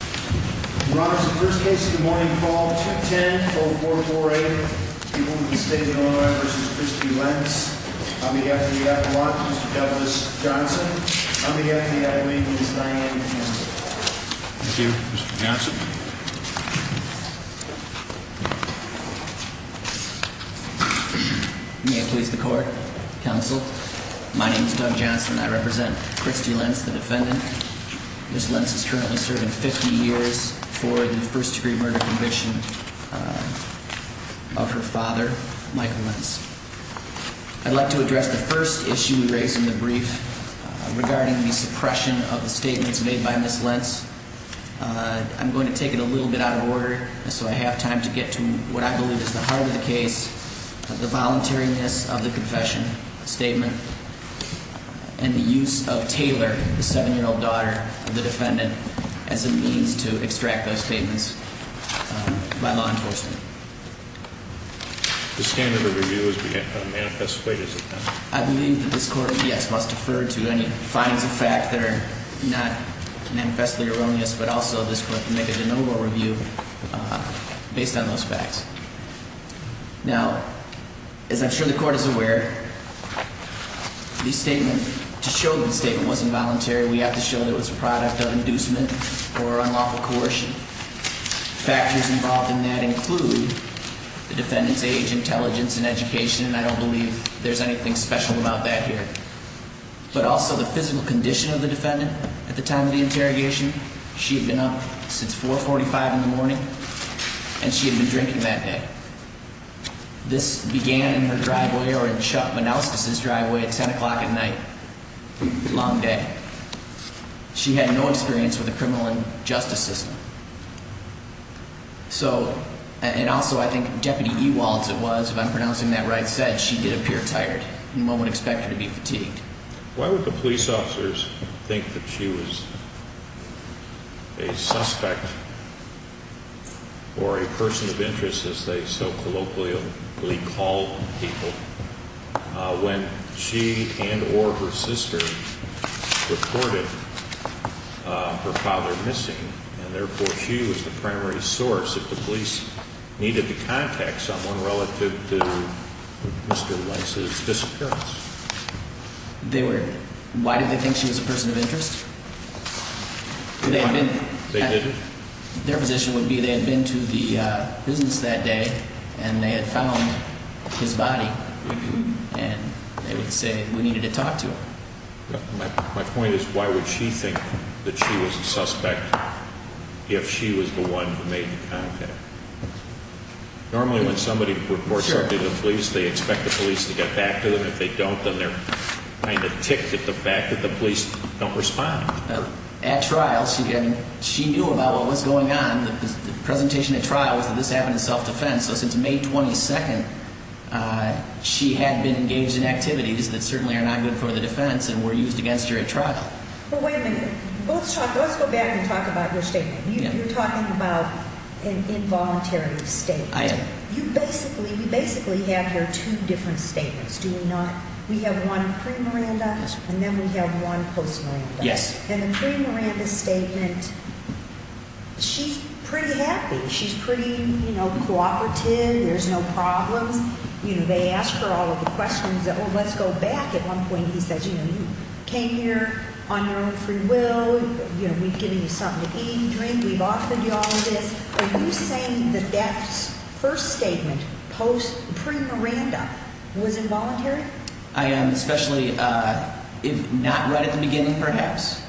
Your Honor, this is the first case of the morning, Fall 210-4448. People of the State of Illinois v. Christy Lentz. On behalf of the Iowans, Mr. Douglas Johnson. On behalf of the Iowans, Ms. Diane Johnson. Thank you, Mr. Johnson. May it please the Court, Counsel. My name is Doug Johnson and I represent Christy Lentz, the defendant. Ms. Lentz is currently serving 50 years for the first degree murder conviction of her father, Michael Lentz. I'd like to address the first issue we raise in the brief regarding the suppression of the statements made by Ms. Lentz. I'm going to take it a little bit out of order so I have time to get to what I believe is the heart of the case. The voluntariness of the confession statement and the use of Taylor, the 7-year-old daughter of the defendant, as a means to extract those statements by law enforcement. The standard of review is to make a manifest plea, is it not? I believe that this Court, yes, must defer to any findings of fact that are not manifestly erroneous, but also this Court can make a de novo review based on those facts. Now, as I'm sure the Court is aware, the statement, to show that the statement wasn't voluntary, we have to show that it was a product of inducement or unlawful coercion. Factors involved in that include the defendant's age, intelligence, and education, and I don't believe there's anything special about that here. But also the physical condition of the defendant at the time of the interrogation. She had been up since 4.45 in the morning, and she had been drinking that day. This began in her driveway or in Chuck Manouskas' driveway at 10 o'clock at night. Long day. She had no experience with the criminal and justice system. So, and also I think Deputy Ewalds, if I'm pronouncing that right, said she did appear tired, and one would expect her to be fatigued. She was the primary source if the police needed to contact someone relative to Mr. Weiss's disappearance. They were, why did they think she was a person of interest? Their position would be they had been to the business that day, and they had found his body, and they would say we needed to talk to him. My point is, why would she think that she was a suspect if she was the one who made the contact? Normally when somebody reports something to the police, they expect the police to get back to them. If they don't, then they're kind of ticked at the fact that the police don't respond. At trial, she knew about what was going on. The presentation at trial was that this happened in self-defense. So since May 22nd, she had been engaged in activities that certainly are not good for the defense and were used against her at trial. But wait a minute. Let's talk, let's go back and talk about your statement. You're talking about an involuntary statement. I am. You basically, you basically have your two different statements, do you not? We have one pre-Miranda, and then we have one post-Miranda. Yes. And the pre-Miranda statement, she's pretty happy. She's pretty, you know, cooperative. There's no problems. You know, they ask her all of the questions. Oh, let's go back. At one point he says, you know, you came here on your own free will. You know, we've given you something to eat and drink. We've offered you all of this. Are you saying that that first statement post-pre-Miranda was involuntary? I am, especially if not right at the beginning, perhaps.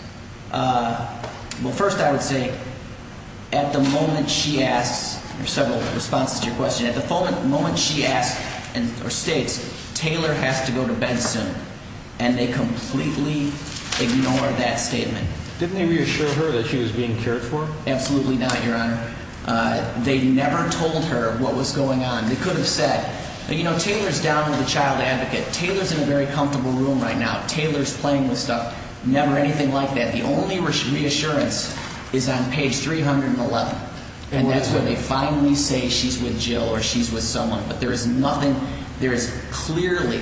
Well, first I would say at the moment she asks, there are several responses to your question, at the moment she asks or states Taylor has to go to bed soon, and they completely ignore that statement. Didn't they reassure her that she was being cared for? Absolutely not, Your Honor. They never told her what was going on. They could have said, you know, Taylor's down with a child advocate. Taylor's in a very comfortable room right now. Taylor's playing with stuff. Never anything like that. The only reassurance is on page 311, and that's where they finally say she's with Jill or she's with someone. But there is nothing. There is clearly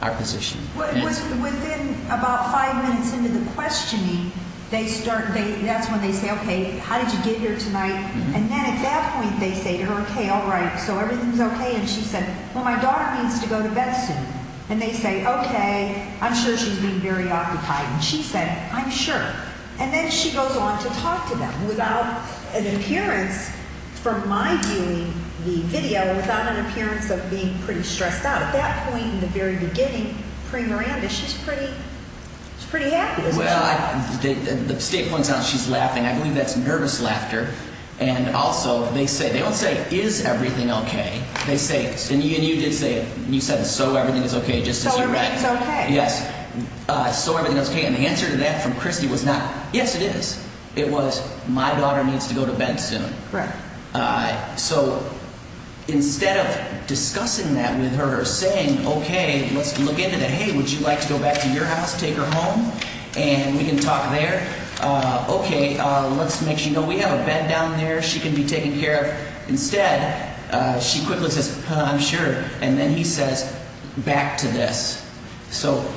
our position. Within about five minutes into the questioning, that's when they say, okay, how did you get here tonight? And then at that point they say to her, okay, all right, so everything's okay. And she said, well, my daughter needs to go to bed soon. And they say, okay, I'm sure she's being very occupied. And she said, I'm sure. And then she goes on to talk to them without an appearance from my viewing the video or without an appearance of being pretty stressed out. At that point in the very beginning, pre-Miranda, she's pretty happy, isn't she? Well, the state points out she's laughing. I believe that's nervous laughter. And also they say they don't say, is everything okay? They say, and you did say it, you said so everything is okay just as you read it. So everything is okay. Yes. So everything is okay. And the answer to that from Christy was not, yes, it is. It was, my daughter needs to go to bed soon. Right. So instead of discussing that with her or saying, okay, let's look into that. Hey, would you like to go back to your house, take her home, and we can talk there? Okay, let's make sure you know we have a bed down there. She can be taken care of. Instead, she quickly says, I'm sure. And then he says, back to this. So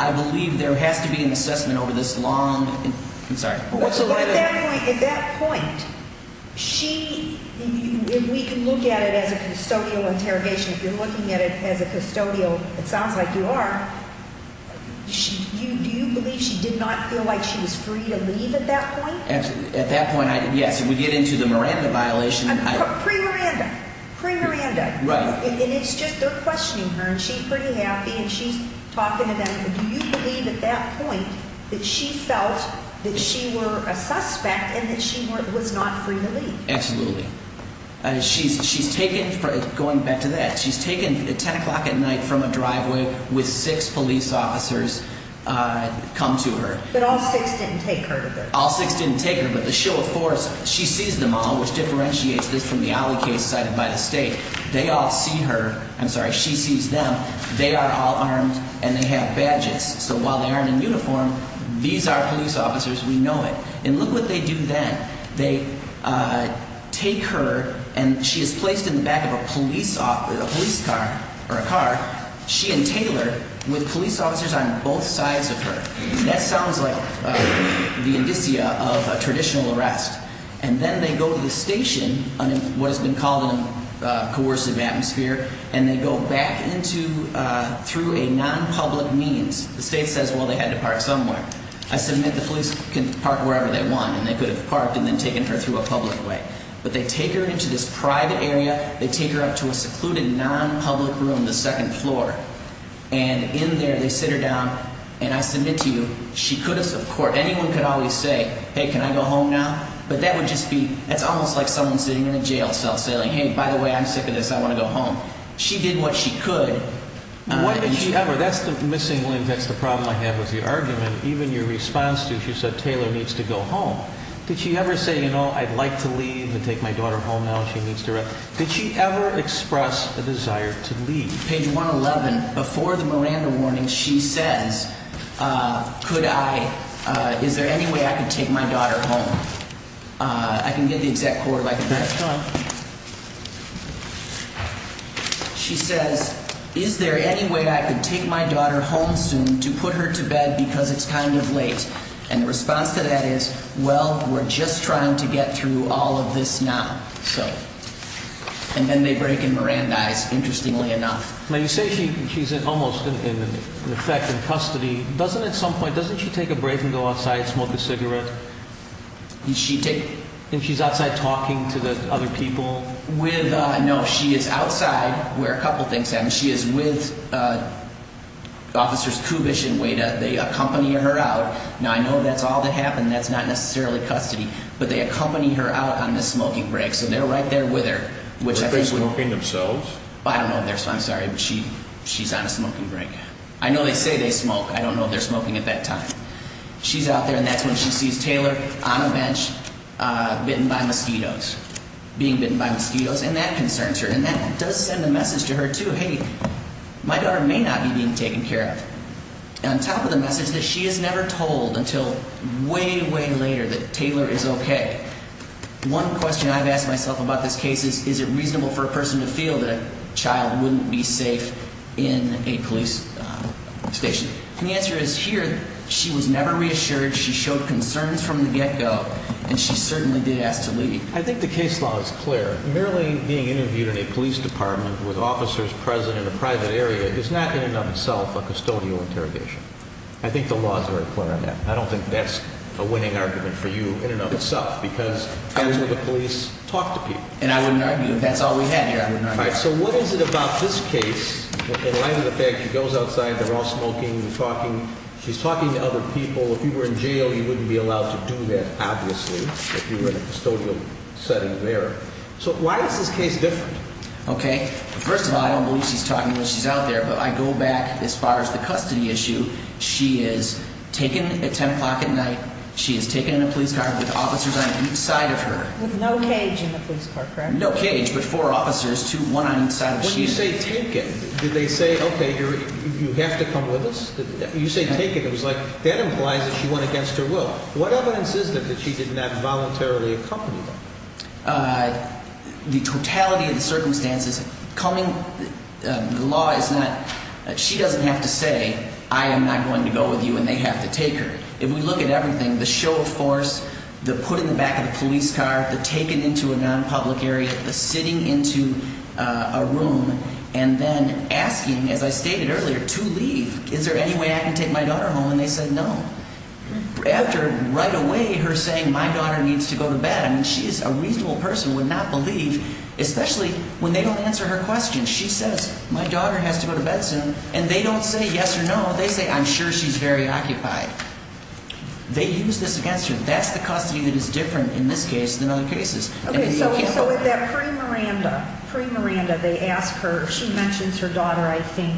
I believe there has to be an assessment over this long. I'm sorry. At that point, we can look at it as a custodial interrogation. If you're looking at it as a custodial, it sounds like you are. Do you believe she did not feel like she was free to leave at that point? At that point, yes. If we get into the Miranda violation. Pre-Miranda. Pre-Miranda. Right. And it's just they're questioning her, and she's pretty happy, and she's talking to them. But do you believe at that point that she felt that she were a suspect and that she was not free to leave? Absolutely. She's taken, going back to that. She's taken at 10 o'clock at night from a driveway with six police officers come to her. But all six didn't take her. All six didn't take her. But the show of force, she sees them all, which differentiates this from the Ali case cited by the state. They all see her. I'm sorry. She sees them. They are all armed, and they have badges. So while they aren't in uniform, these are police officers. We know it. And look what they do then. They take her, and she is placed in the back of a police car, or a car, she and Taylor, with police officers on both sides of her. That sounds like the indicia of a traditional arrest. And then they go to the station, what has been called a coercive atmosphere, and they go back into, through a nonpublic means. The state says, well, they had to park somewhere. I submit the police can park wherever they want, and they could have parked and then taken her through a public way. But they take her into this private area. They take her up to a secluded nonpublic room, the second floor. And in there, they sit her down, and I submit to you, she could have, of course, anyone could always say, hey, can I go home now? But that would just be, that's almost like someone sitting in a jail cell saying, hey, by the way, I'm sick of this. I want to go home. She did what she could. When did she ever, that's the missing link, that's the problem I have with the argument. Even your response to it, you said Taylor needs to go home. Did she ever say, you know, I'd like to leave and take my daughter home now if she needs to rest? Did she ever express a desire to leave? Page 111, before the Miranda warning, she says, could I, is there any way I could take my daughter home? I can get the exec court like that. Go on. She says, is there any way I could take my daughter home soon to put her to bed because it's kind of late? And the response to that is, well, we're just trying to get through all of this now, so. And then they break and Miranda dies, interestingly enough. Now, you say she's almost in effect in custody. Doesn't at some point, doesn't she take a break and go outside, smoke a cigarette? Does she take? And she's outside talking to the other people? With, no, she is outside where a couple things happen. She is with Officers Kubish and Weida. They accompany her out. Now, I know that's all that happened. That's not necessarily custody. But they accompany her out on the smoking break, so they're right there with her. Were they smoking themselves? I don't know. I'm sorry, but she's on a smoking break. I know they say they smoke. I don't know if they're smoking at that time. She's out there, and that's when she sees Taylor on a bench bitten by mosquitoes, being bitten by mosquitoes. And that concerns her. And that does send a message to her, too. Hey, my daughter may not be being taken care of. On top of the message that she is never told until way, way later that Taylor is okay, one question I've asked myself about this case is, is it reasonable for a person to feel that a child wouldn't be safe in a police station? And the answer is, here, she was never reassured. She showed concerns from the get-go, and she certainly did ask to leave. I think the case law is clear. Merely being interviewed in a police department with officers present in a private area is not in and of itself a custodial interrogation. I think the law is very clear on that. I don't think that's a winning argument for you in and of itself because that's where the police talk to people. And I wouldn't argue. If that's all we had here, I wouldn't argue. All right, so what is it about this case? In light of the fact she goes outside, they're all smoking, she's talking to other people. If you were in jail, you wouldn't be allowed to do that, obviously, if you were in a custodial setting there. So why is this case different? Okay, first of all, I don't believe she's talking when she's out there, but I go back as far as the custody issue. She is taken at 10 o'clock at night. She is taken in a police car with officers on each side of her. With no cage in the police car, correct? No cage, but four officers, one on each side of the machine. When you say taken, did they say, okay, you have to come with us? You say taken, it was like that implies that she went against her will. What evidence is there that she did not voluntarily accompany them? The totality of the circumstances, coming, the law is not, she doesn't have to say, I am not going to go with you, and they have to take her. If we look at everything, the show of force, the put in the back of the police car, the taken into a non-public area, the sitting into a room, and then asking, as I stated earlier, to leave. Is there any way I can take my daughter home? And they said no. After, right away, her saying, my daughter needs to go to bed. I mean, she is a reasonable person, would not believe, especially when they don't answer her questions. She says, my daughter has to go to bed soon. And they don't say yes or no. They say, I'm sure she's very occupied. They use this against her. That's the custody that is different in this case than other cases. Okay. So with that pre-Miranda, pre-Miranda, they ask her, she mentions her daughter, I think,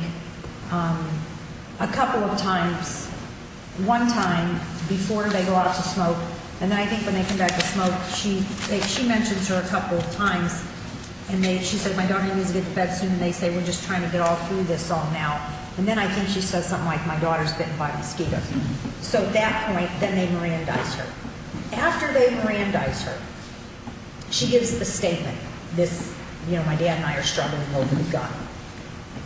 a couple of times, one time, before they go out to smoke. And then I think when they come back to smoke, she mentions her a couple of times. And she said, my daughter needs to get to bed soon. And they say, we're just trying to get all through this all now. And then I think she says something like, my daughter's bitten by a mosquito. So at that point, then they Mirandize her. After they Mirandize her, she gives a statement, this, you know, my dad and I are struggling over the gun.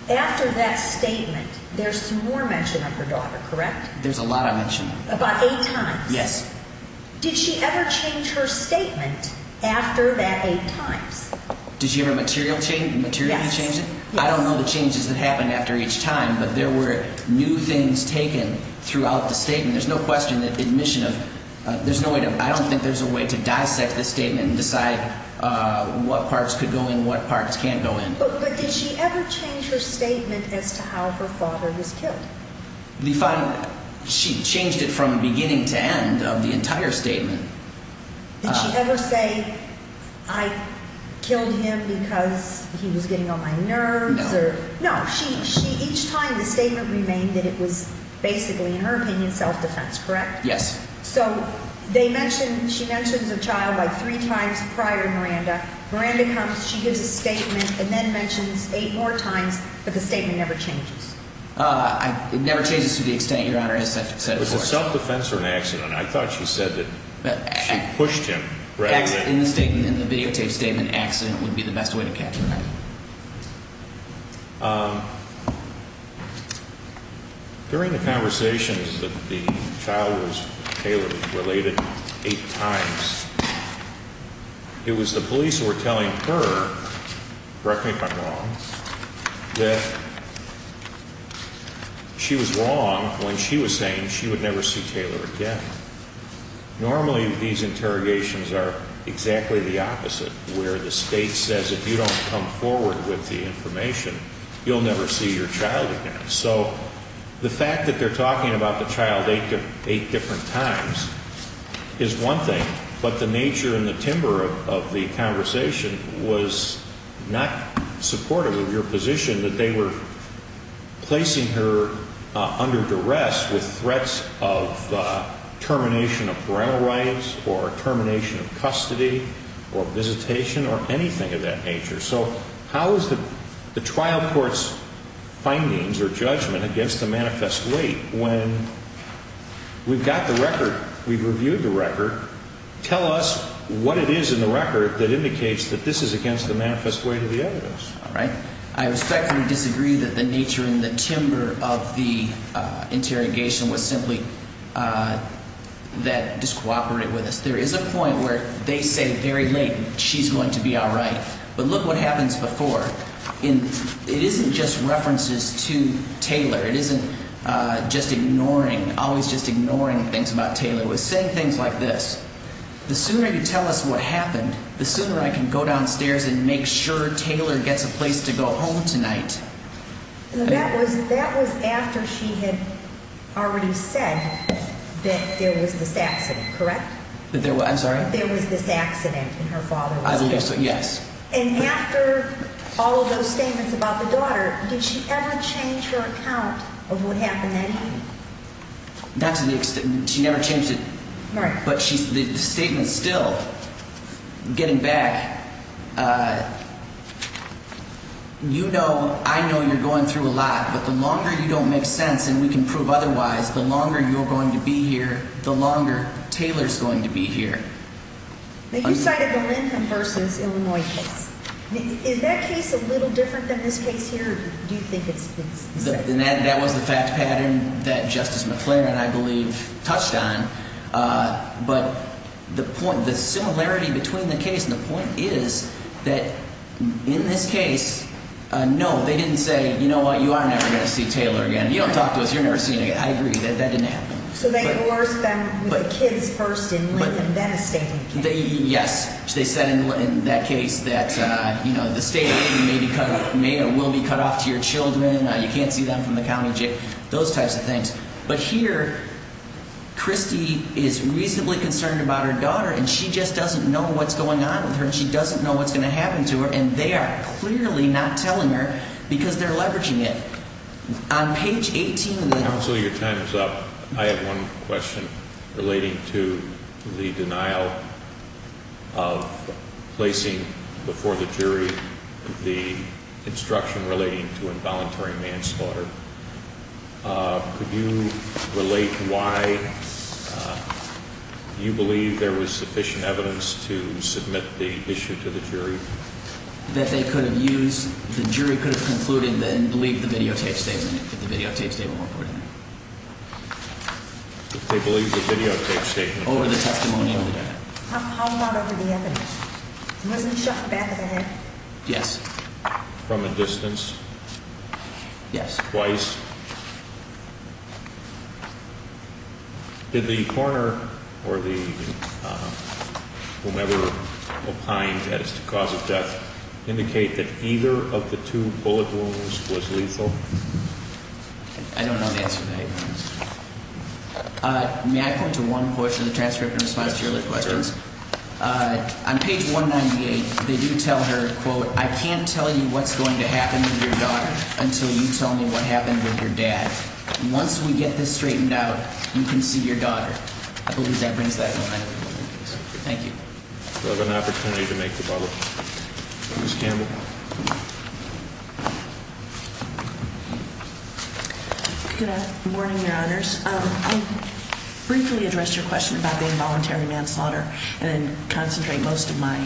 After that statement, there's more mention of her daughter, correct? There's a lot of mention. About eight times? Yes. Did she ever change her statement after that eight times? Did she ever materially change it? Yes. I don't know the changes that happened after each time, but there were new things taken throughout the statement. There's no question that admission of, there's no way to, I don't think there's a way to dissect the statement and decide what parts could go in, what parts can't go in. But did she ever change her statement as to how her father was killed? The final, she changed it from beginning to end of the entire statement. Did she ever say, I killed him because he was getting on my nerves? No. No, she, each time the statement remained that it was basically, in her opinion, self-defense, correct? Yes. So they mention, she mentions a child like three times prior to Miranda. Miranda comes, she gives a statement, and then mentions eight more times, but the statement never changes. It never changes to the extent, Your Honor, as I've said before. It was a self-defense or an accident. I thought she said that she pushed him. In the statement, in the videotape statement, accident would be the best way to catch him. During the conversations that the child was related eight times, it was the police who were telling her, correct me if I'm wrong, that she was wrong when she was saying she would never see Taylor again. Normally, these interrogations are exactly the opposite, where the state says if you don't come forward with the information, you'll never see your child again. So the fact that they're talking about the child eight different times is one thing, but the nature and the timbre of the conversation was not supportive of your position that they were placing her under duress with threats of termination of parental rights, or termination of custody, or visitation, or anything of that nature. So how is the trial court's findings or judgment against the manifest weight when we've got the record, we've reviewed the record, tell us what it is in the record that indicates that this is against the manifest weight of the evidence. All right. I respectfully disagree that the nature and the timbre of the interrogation was simply that it discooperated with us. There is a point where they say very late, she's going to be all right. But look what happens before. It isn't just references to Taylor. It isn't just ignoring, always just ignoring things about Taylor. It was saying things like this. The sooner you tell us what happened, the sooner I can go downstairs and make sure Taylor gets a place to go home tonight. That was after she had already said that there was this accident, correct? I'm sorry? There was this accident and her father was killed. Yes. And after all of those statements about the daughter, did she ever change her account of what happened that evening? Not to the extent, she never changed it. Right. But the statement still, getting back, you know, I know you're going through a lot. But the longer you don't make sense and we can prove otherwise, the longer you're going to be here, the longer Taylor's going to be here. You cited the Lincoln versus Illinois case. Is that case a little different than this case here? Do you think it's the same? It's the same pattern that Justice McClaren, I believe, touched on. But the point, the similarity between the case and the point is that in this case, no, they didn't say, you know what, you are never going to see Taylor again. You don't talk to us. You're never seeing her again. I agree. That didn't happen. So they coerced them with the kids first in Lincoln, then a statement came out. Yes. They said in that case that, you know, the state may or will be cut off to your children. You can't see them from the county jail. Those types of things. But here, Christy is reasonably concerned about her daughter and she just doesn't know what's going on with her and she doesn't know what's going to happen to her. And they are clearly not telling her because they're leveraging it. On page 18. Counselor, your time is up. I have one question relating to the denial of placing before the jury the instruction relating to involuntary manslaughter. Could you relate why you believe there was sufficient evidence to submit the issue to the jury? That they could have used. The jury could have concluded and believe the videotape statement. The videotape statement. They believe the videotape statement. Over the testimonial. How far over the evidence? He wasn't shot in the back of the head. Yes. From a distance. Yes. Twice. Did the coroner or the whomever opined that it's the cause of death indicate that either of the two bullet wounds was lethal? I don't know the answer to that. May I point to one portion of the transcript in response to your earlier questions? Sure. On page 198, they do tell her, quote, I can't tell you what's going to happen with your daughter until you tell me what happened with your dad. Once we get this straightened out, you can see your daughter. I believe that brings that to mind. Thank you. We'll have an opportunity to make the follow-up. Ms. Campbell. Good morning, Your Honors. I'll briefly address your question about the involuntary manslaughter and then concentrate most of my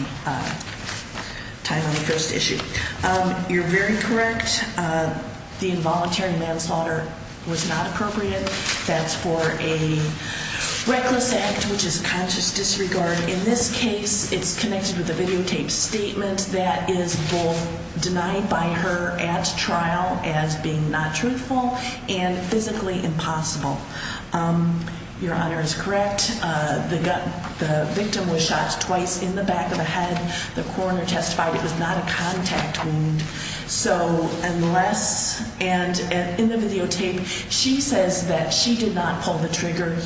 time on the first issue. You're very correct. The involuntary manslaughter was not appropriate. That's for a reckless act, which is conscious disregard. In this case, it's connected with a videotape statement that is both denied by her at trial as being not truthful and physically impossible. Your Honor is correct. The victim was shot twice in the back of the head. The coroner testified it was not a contact wound. So unless – and in the videotape, she says that she did not pull the trigger.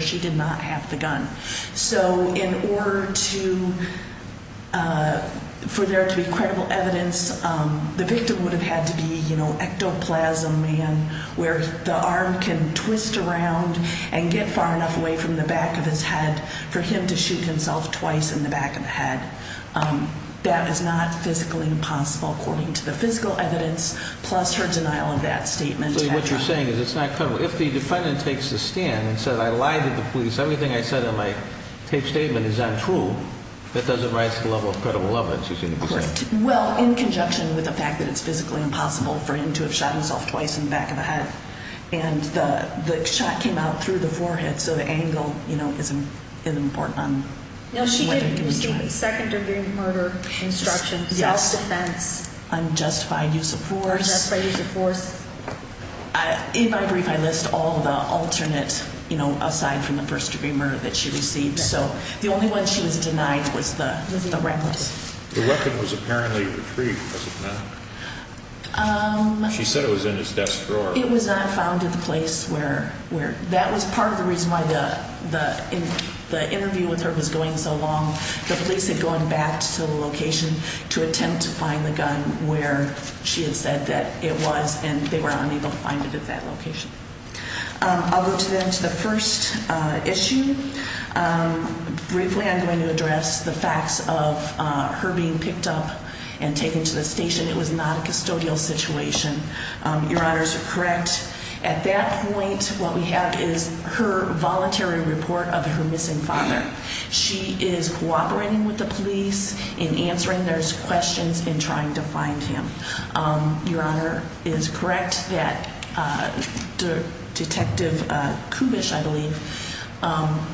She did not have the gun. So in order to – for there to be credible evidence, the victim would have had to be, you know, ectoplasm man, where the arm can twist around and get far enough away from the back of his head for him to shoot himself twice in the back of the head. That is not physically impossible according to the physical evidence, plus her denial of that statement. So what you're saying is it's not – if the defendant takes a stand and says, I lied to the police, everything I said in my tape statement is untrue, that doesn't rise to the level of credible evidence, you seem to be correct. Well, in conjunction with the fact that it's physically impossible for him to have shot himself twice in the back of the head, and the shot came out through the forehead, so the angle, you know, isn't important on whether he was shot. Second-degree murder instruction, self-defense. Unjustified use of force. Unjustified use of force. In my brief, I list all the alternate, you know, aside from the first-degree murder that she received. So the only one she was denied was the weapon. The weapon was apparently retrieved, was it not? She said it was in his desk drawer. It was not found in the place where – that was part of the reason why the interview with her was going so long. The police had gone back to the location to attempt to find the gun where she had said that it was, and they were unable to find it at that location. I'll go then to the first issue. Briefly, I'm going to address the facts of her being picked up and taken to the station. It was not a custodial situation. Your Honors are correct. At that point, what we have is her voluntary report of her missing father. She is cooperating with the police in answering those questions and trying to find him. Your Honor is correct that Detective Kubish, I believe,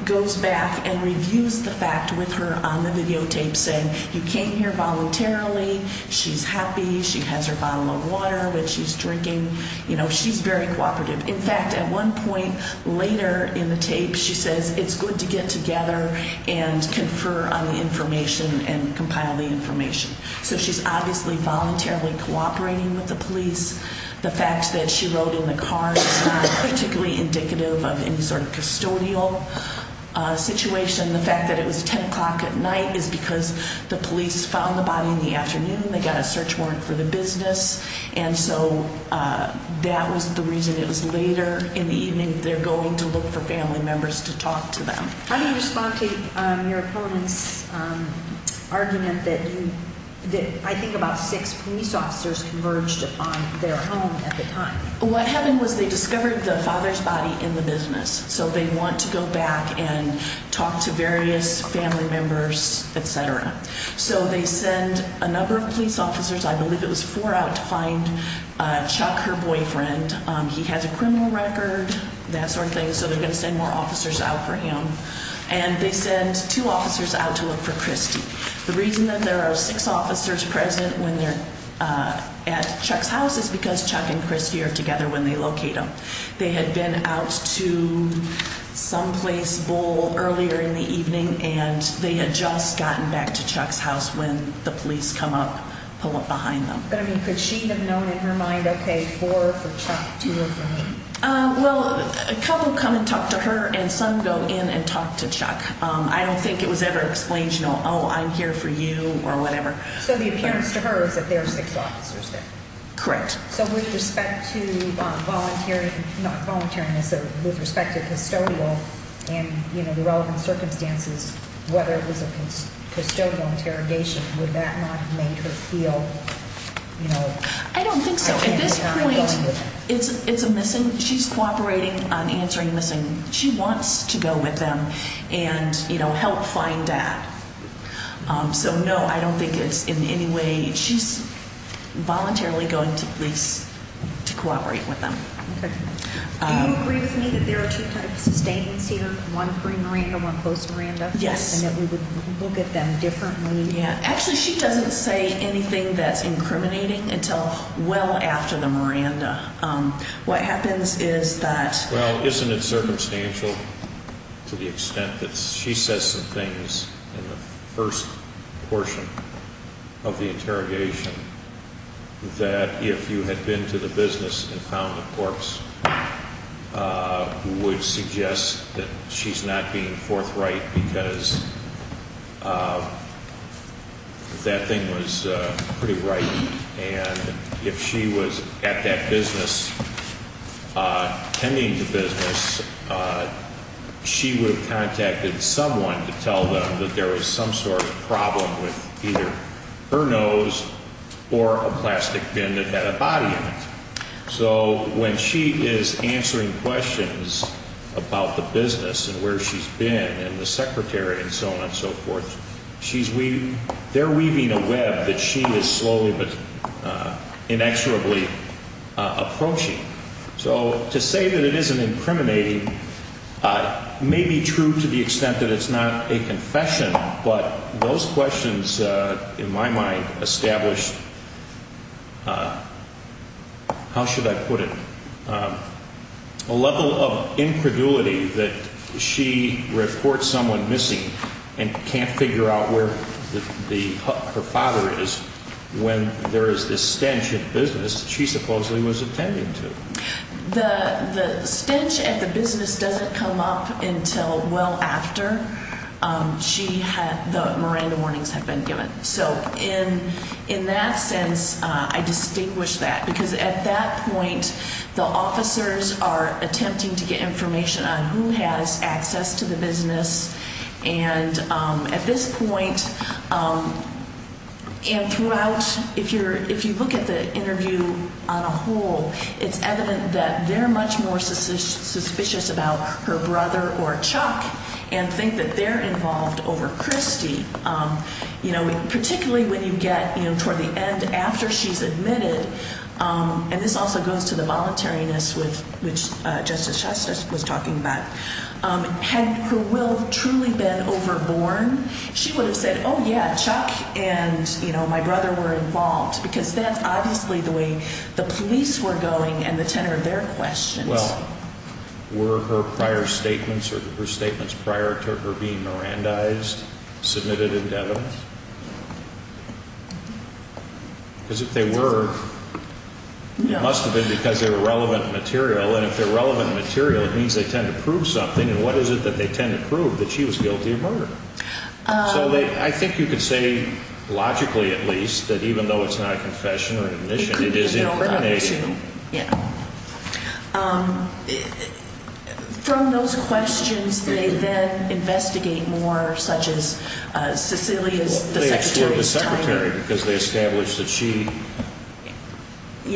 goes back and reviews the fact with her on the videotape, saying you came here voluntarily, she's happy, she has her bottle of water, which she's drinking. You know, she's very cooperative. In fact, at one point later in the tape, she says it's good to get together and confer on the information and compile the information. So she's obviously voluntarily cooperating with the police. The fact that she rode in the car is not particularly indicative of any sort of custodial situation. The fact that it was 10 o'clock at night is because the police found the body in the afternoon. They got a search warrant for the business. And so that was the reason it was later in the evening they're going to look for family members to talk to them. How do you respond to your opponent's argument that I think about six police officers converged on their home at the time? What happened was they discovered the father's body in the business. So they want to go back and talk to various family members, et cetera. So they send a number of police officers. I believe it was four out to find Chuck, her boyfriend. He has a criminal record, that sort of thing, so they're going to send more officers out for him. And they send two officers out to look for Christy. The reason that there are six officers present when they're at Chuck's house is because Chuck and Christy are together when they locate him. They had been out to someplace earlier in the evening, and they had just gotten back to Chuck's house when the police come up, pull up behind them. Could she have known in her mind, okay, four for Chuck, two for her? Well, a couple come and talk to her, and some go in and talk to Chuck. I don't think it was ever explained, you know, oh, I'm here for you or whatever. So the appearance to her is that there are six officers there? Correct. So with respect to volunteering, not volunteering, with respect to custodial and, you know, the relevant circumstances, whether it was a custodial interrogation, would that not have made her feel, you know? I don't think so. At this point, it's a missing. She's cooperating on answering missing. She wants to go with them and, you know, help find dad. So, no, I don't think it's in any way she's voluntarily going to police to cooperate with them. Okay. Do you agree with me that there are two types of statements either one pre-Miranda, one post-Miranda? Yes. And that we would look at them differently? Yeah. Actually, she doesn't say anything that's incriminating until well after the Miranda. What happens is that – in the first portion of the interrogation, that if you had been to the business and found the corpse, would suggest that she's not being forthright because that thing was pretty right. And if she was at that business, attending the business, she would have contacted someone to tell them that there was some sort of problem with either her nose or a plastic bin that had a body in it. So when she is answering questions about the business and where she's been and the secretary and so on and so forth, they're weaving a web that she is slowly but inexorably approaching. So to say that it isn't incriminating may be true to the extent that it's not a confession, but those questions in my mind establish – how should I put it? A level of incredulity that she reports someone missing and can't figure out where her father is when there is this stench at the business she supposedly was attending to. The stench at the business doesn't come up until well after the Miranda warnings have been given. So in that sense, I distinguish that because at that point, the officers are attempting to get information on who has access to the business. And at this point and throughout, if you look at the interview on a whole, it's evident that they're much more suspicious about her brother or Chuck and think that they're involved over Christy, particularly when you get toward the end after she's admitted. And this also goes to the voluntariness, which Justice Shuster was talking about. Had her will truly been overborne, she would have said, oh, yeah, Chuck and my brother were involved, because that's obviously the way the police were going and the tenor of their questions. Well, were her prior statements or her statements prior to her being Mirandized submitted in Devin? Because if they were, it must have been because they were relevant material. And if they're relevant material, it means they tend to prove something. And what is it that they tend to prove, that she was guilty of murder? So I think you could say, logically at least, that even though it's not a confession or an admission, it is information. From those questions, they then investigate more, such as Cecilia's, the secretary's, Well, they explored the secretary because they established that she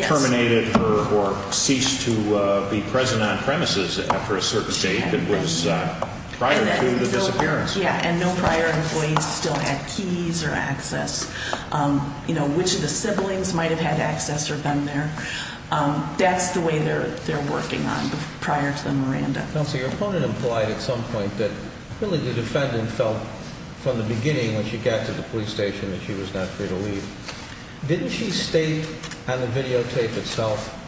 terminated her or ceased to be present on premises after a certain date that was prior to the disappearance. Yeah, and no prior employees still had keys or access. You know, which of the siblings might have had access or been there. That's the way they're working on, prior to the Miranda. Counsel, your opponent implied at some point that really the defendant felt from the beginning when she got to the police station that she was not free to leave. Didn't she state on the videotape itself,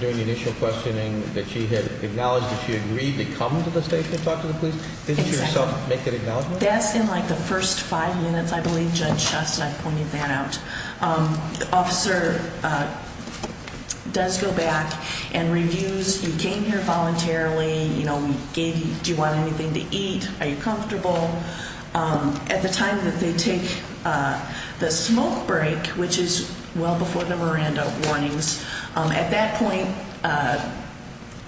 during the initial questioning, that she had acknowledged that she agreed to come to the station and talk to the police? Exactly. Didn't she herself make that acknowledgement? Well, that's in like the first five minutes, I believe Judge Schust and I pointed that out. The officer does go back and reviews, you came here voluntarily, you know, we gave you, do you want anything to eat, are you comfortable? At the time that they take the smoke break, which is well before the Miranda warnings, at that point,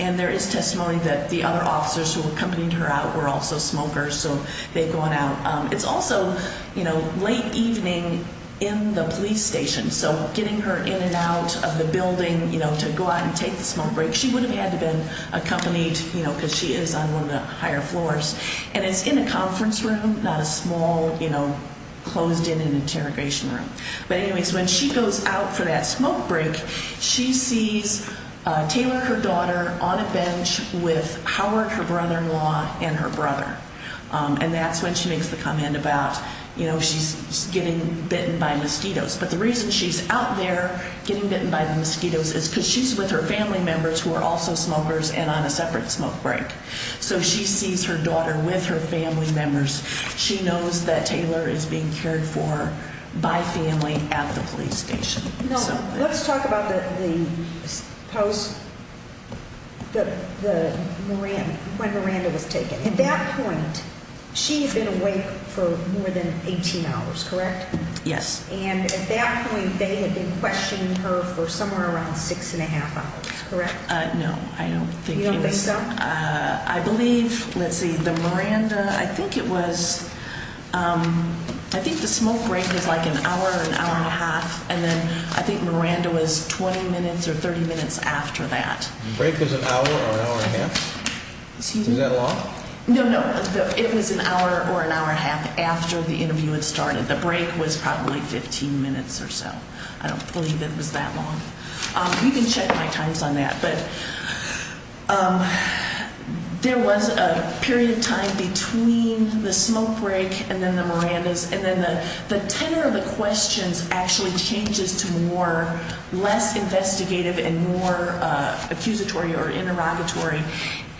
and there is testimony that the other officers who accompanied her out were also smokers, so they've gone out. It's also, you know, late evening in the police station, so getting her in and out of the building, you know, to go out and take the smoke break, she would have had to have been accompanied, you know, because she is on one of the higher floors. And it's in a conference room, not a small, you know, closed-in interrogation room. But anyways, when she goes out for that smoke break, she sees Taylor, her daughter, on a bench with Howard, her brother-in-law, and her brother. And that's when she makes the comment about, you know, she's getting bitten by mosquitoes. But the reason she's out there getting bitten by the mosquitoes is because she's with her family members who are also smokers and on a separate smoke break. So she sees her daughter with her family members. She knows that Taylor is being cared for by family at the police station. Now, let's talk about the post, when Miranda was taken. At that point, she had been awake for more than 18 hours, correct? Yes. And at that point, they had been questioning her for somewhere around 6 1⁄2 hours, correct? No, I don't think so. You don't think so? I believe, let's see, the Miranda, I think it was, I think the smoke break was like an hour, an hour and a half, and then I think Miranda was 20 minutes or 30 minutes after that. The break was an hour or an hour and a half? Is that long? No, no. It was an hour or an hour and a half after the interview had started. The break was probably 15 minutes or so. I don't believe it was that long. You can check my times on that. But there was a period of time between the smoke break and then the Miranda's, and then the tenor of the questions actually changes to more less investigative and more accusatory or interrogatory.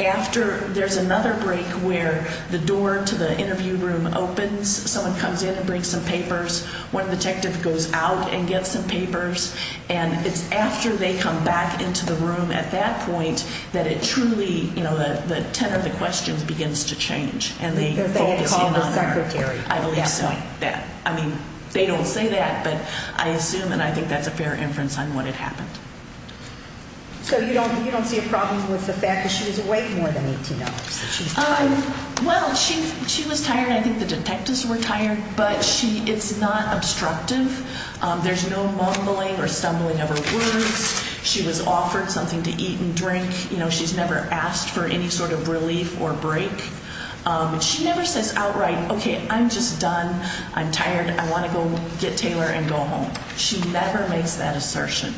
After, there's another break where the door to the interview room opens. Someone comes in and brings some papers. One detective goes out and gets some papers. And it's after they come back into the room at that point that it truly, you know, the tenor of the questions begins to change. They had called the secretary. I believe so. I mean, they don't say that, but I assume and I think that's a fair inference on what had happened. So you don't see a problem with the fact that she was awake more than 18 hours that she was tired? Well, she was tired. I think the detectives were tired, but it's not obstructive. There's no mumbling or stumbling over words. She was offered something to eat and drink. You know, she's never asked for any sort of relief or break. She never says outright, okay, I'm just done. I'm tired. I want to go get Taylor and go home. She never makes that assertion.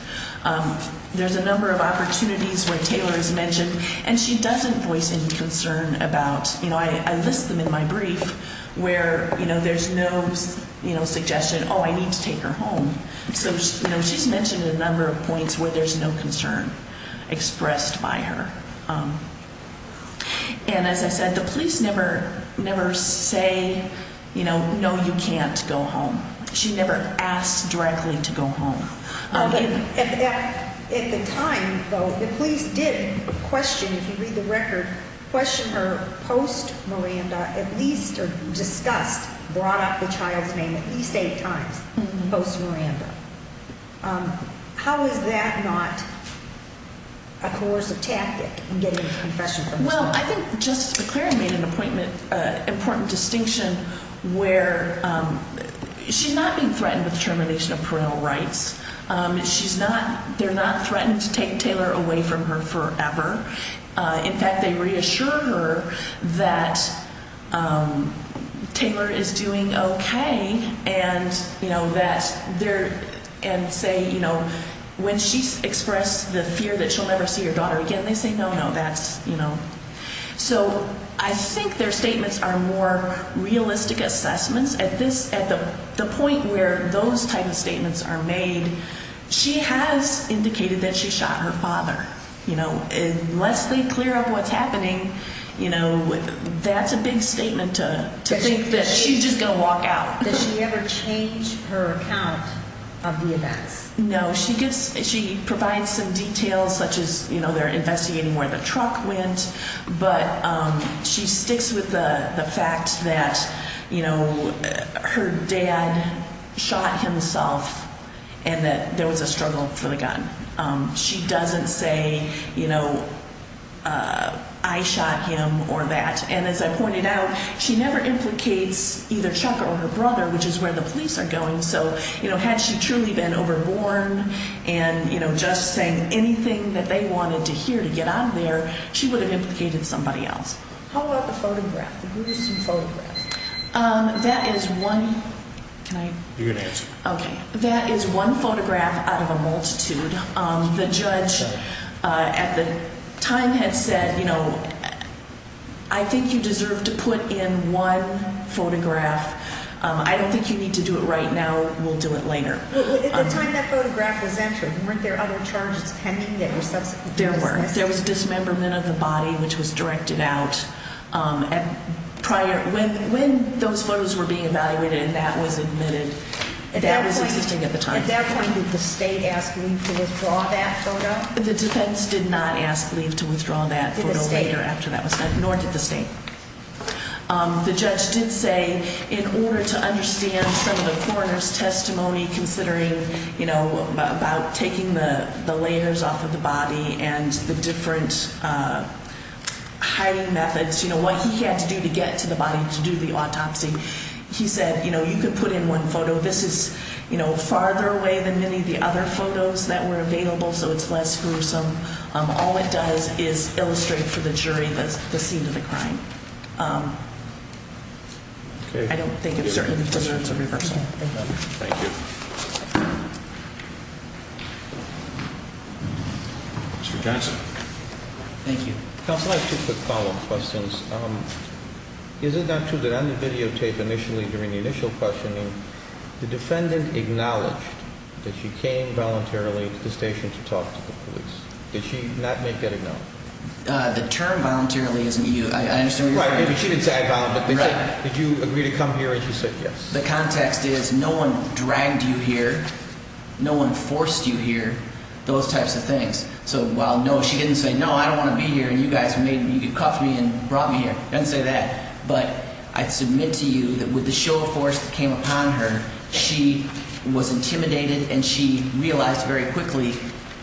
There's a number of opportunities where Taylor is mentioned, and she doesn't voice any concern about, you know, I list them in my brief where, you know, there's no, you know, suggestion, oh, I need to take her home. So, you know, she's mentioned a number of points where there's no concern expressed by her. And as I said, the police never say, you know, no, you can't go home. She never asked directly to go home. Okay. At the time, though, the police did question, if you read the record, question her post-Miranda at least or discussed, brought up the child's name at least eight times post-Miranda. How is that not a coercive tactic in getting a confession from the child? Well, I think Justice McClaren made an important distinction where she's not being threatened with termination of parental rights. They're not threatening to take Taylor away from her forever. In fact, they reassure her that Taylor is doing okay and, you know, that they're, and say, you know, when she expressed the fear that she'll never see her daughter again, they say, no, no, that's, you know. So I think their statements are more realistic assessments. At this, at the point where those type of statements are made, she has indicated that she shot her father. You know, unless they clear up what's happening, you know, that's a big statement to think that she's just going to walk out. Did she ever change her account of the events? No. She provides some details such as, you know, they're investigating where the truck went, but she sticks with the fact that, you know, her dad shot himself and that there was a struggle for the gun. She doesn't say, you know, I shot him or that. And as I pointed out, she never implicates either Chuck or her brother, which is where the police are going. So, you know, had she truly been overborn and, you know, just saying anything that they wanted to hear to get out of there, she would have implicated somebody else. How about the photograph, the gruesome photograph? That is one. Can I? You're going to answer. OK. That is one photograph out of a multitude. The judge at the time had said, you know, I think you deserve to put in one photograph. I don't think you need to do it right now. We'll do it later. At the time that photograph was entered, weren't there other charges pending? There were. There was dismemberment of the body, which was directed out. And prior, when those photos were being evaluated and that was admitted, that was existing at the time. At that point, did the state ask leave to withdraw that photo? The defense did not ask leave to withdraw that photo later after that was done, nor did the state. The judge did say in order to understand some of the coroner's testimony, considering, you know, about taking the layers off of the body and the different hiding methods, you know, what he had to do to get to the body to do the autopsy. He said, you know, you could put in one photo. This is, you know, farther away than many of the other photos that were available, so it's less gruesome. All it does is illustrate for the jury the scene of the crime. I don't think it deserves a reversal. Thank you. Mr. Johnson. Thank you. Counsel, I have two quick follow-up questions. Is it not true that on the videotape initially during the initial questioning, the defendant acknowledged that she came voluntarily to the station to talk to the police? Did she not make that acknowledgement? The term voluntarily isn't used. I understand what you're saying. Right. Maybe she didn't say I volunteered, but did you agree to come here and she said yes? The context is no one dragged you here, no one forced you here, those types of things. So while no, she didn't say, no, I don't want to be here and you guys made me, you cuffed me and brought me here. She didn't say that. But I submit to you that with the show of force that came upon her, she was intimidated and she realized very quickly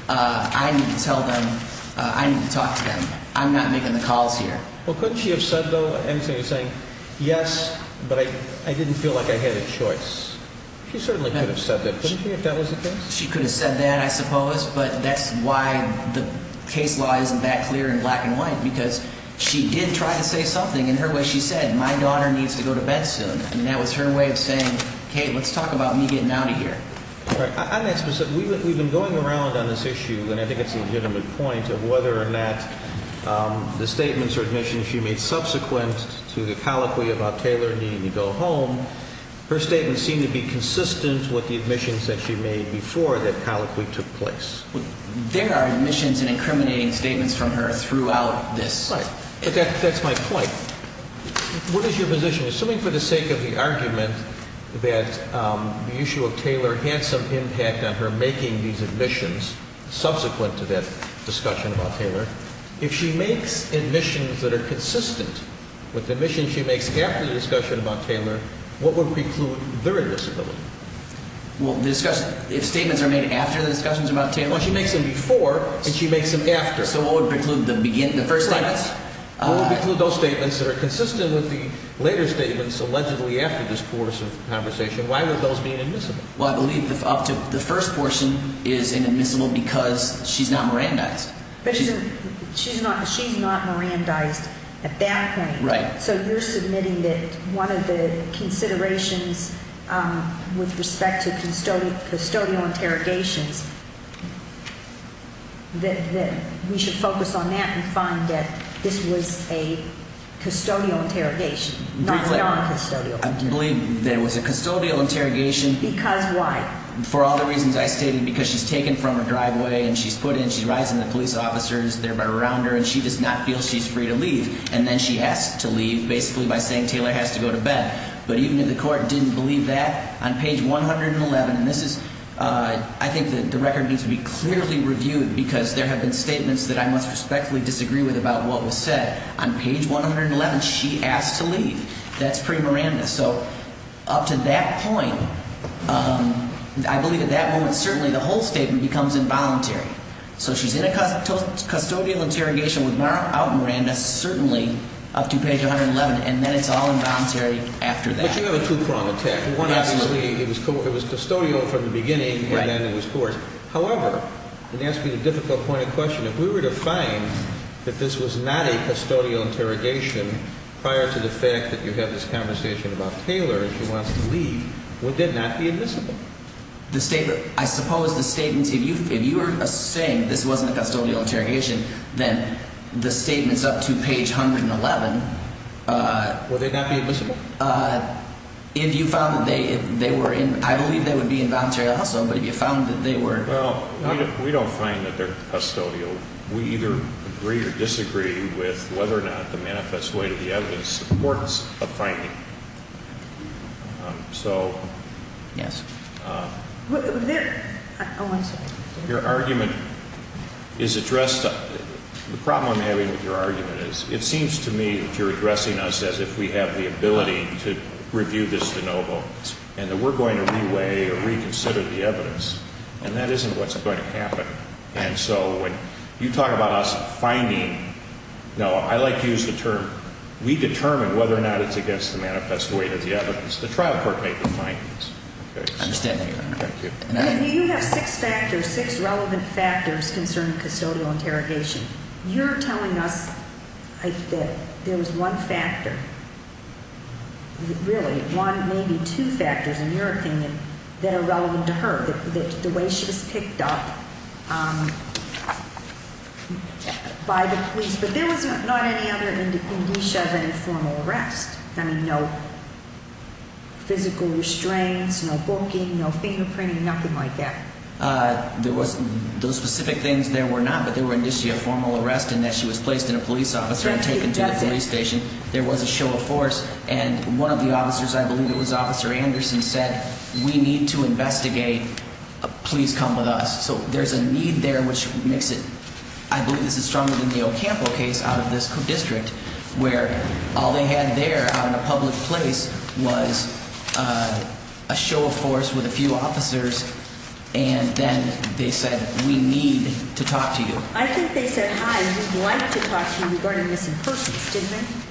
I need to tell them, I need to talk to them. I'm not making the calls here. Well, couldn't she have said, though, everything you're saying, yes, but I didn't feel like I had a choice? She certainly could have said that, couldn't she, if that was the case? She could have said that, I suppose, but that's why the case law isn't that clear in black and white, because she did try to say something in her way. She said, my daughter needs to go to bed soon. I mean, that was her way of saying, okay, let's talk about me getting out of here. On that specific, we've been going around on this issue, and I think it's a legitimate point, of whether or not the statements or admissions she made subsequent to the colloquy about Taylor needing to go home, her statements seem to be consistent with the admissions that she made before that colloquy took place. There are admissions and incriminating statements from her throughout this. Right, but that's my point. What is your position? Assuming for the sake of the argument that the issue of Taylor had some impact on her making these admissions subsequent to that discussion about Taylor, if she makes admissions that are consistent with the admissions she makes after the discussion about Taylor, what would preclude their disability? Well, if statements are made after the discussions about Taylor? Well, she makes them before, and she makes them after. So what would preclude the first statements? What would preclude those statements that are consistent with the later statements allegedly after this course of conversation? Why would those be inadmissible? Well, I believe the first portion is inadmissible because she's not Mirandized. But she's not Mirandized at that point. Right. So you're submitting that one of the considerations with respect to custodial interrogations, that we should focus on that and find that this was a custodial interrogation, not a non-custodial interrogation. I believe that it was a custodial interrogation. Because why? For all the reasons I stated, because she's taken from her driveway and she's put in, she rides in the police officers, they're around her, and she does not feel she's free to leave. And then she has to leave, basically by saying Taylor has to go to bed. But even if the court didn't believe that, on page 111, and this is, I think the record needs to be clearly reviewed because there have been statements that I must respectfully disagree with about what was said. On page 111, she asked to leave. That's pre-Miranda. So up to that point, I believe at that moment, certainly the whole statement becomes involuntary. So she's in a custodial interrogation without Miranda, certainly, up to page 111, and then it's all involuntary after that. But you have a two-prong attack. Absolutely. It was custodial from the beginning and then it was court. However, it asks me a difficult point of question. If we were to find that this was not a custodial interrogation prior to the fact that you had this conversation about Taylor and she wants to leave, would that not be admissible? The statement, I suppose the statements, if you were saying this wasn't a custodial interrogation, then the statements up to page 111. Would they not be admissible? If you found that they were in, I believe they would be involuntary also, but if you found that they were. Well, we don't find that they're custodial. We either agree or disagree with whether or not the manifest way to the evidence supports a finding. So. Yes. Your argument is addressed. The problem I'm having with your argument is it seems to me that you're addressing us as if we have the ability to review this de novo and that we're going to re-weigh or reconsider the evidence. And that isn't what's going to happen. And so when you talk about us finding, I like to use the term, we determine whether or not it's against the manifest way to the evidence. The trial court may find this. I understand that, Your Honor. Thank you. You have six factors, six relevant factors concerning custodial interrogation. You're telling us that there was one factor, really one, maybe two factors, in your opinion, that are relevant to her, the way she was picked up by the police. But there was not any other indicia of any formal arrest. I mean, no physical restraints, no booking, no fingerprinting, nothing like that. There was those specific things there were not, but there were indicia of formal arrest in that she was placed in a police officer and taken to the police station. There was a show of force. And one of the officers, I believe it was Officer Anderson, said, we need to investigate. Please come with us. So there's a need there which makes it, I believe this is stronger than the Ocampo case out of this district, where all they had there out in a public place was a show of force with a few officers. And then they said, we need to talk to you. I think they said, hi, we'd like to talk to you regarding missing persons, didn't they?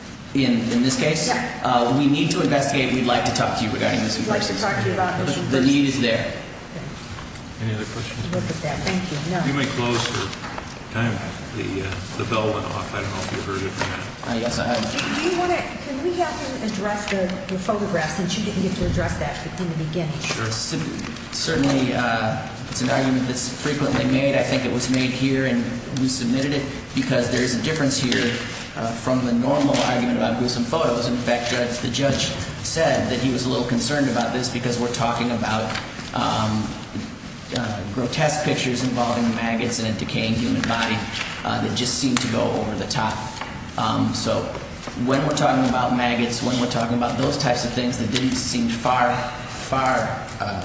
In this case? Yeah. We need to investigate. We'd like to talk to you regarding missing persons. We'd like to talk to you about missing persons. The need is there. Okay. Any other questions? We'll put that. Thank you. You may close for time. The bell went off. I don't know if you heard it or not. Yes, I heard it. Do you want to, can we have you address the photographs since you didn't get to address that in the beginning? Sure. Certainly it's an argument that's frequently made. I think it was made here and we submitted it because there is a difference here from the normal argument about gruesome photos. In fact, the judge said that he was a little concerned about this because we're talking about grotesque pictures involving maggots and a decaying human body that just seemed to go over the top. So when we're talking about maggots, when we're talking about those types of things that didn't seem far, far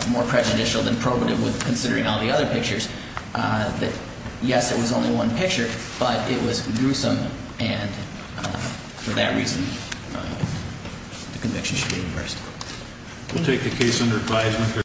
more prejudicial than probative with considering all the other pictures, that yes, it was only one picture, but it was gruesome. And for that reason, the conviction should be reversed. We'll take the case under advisement.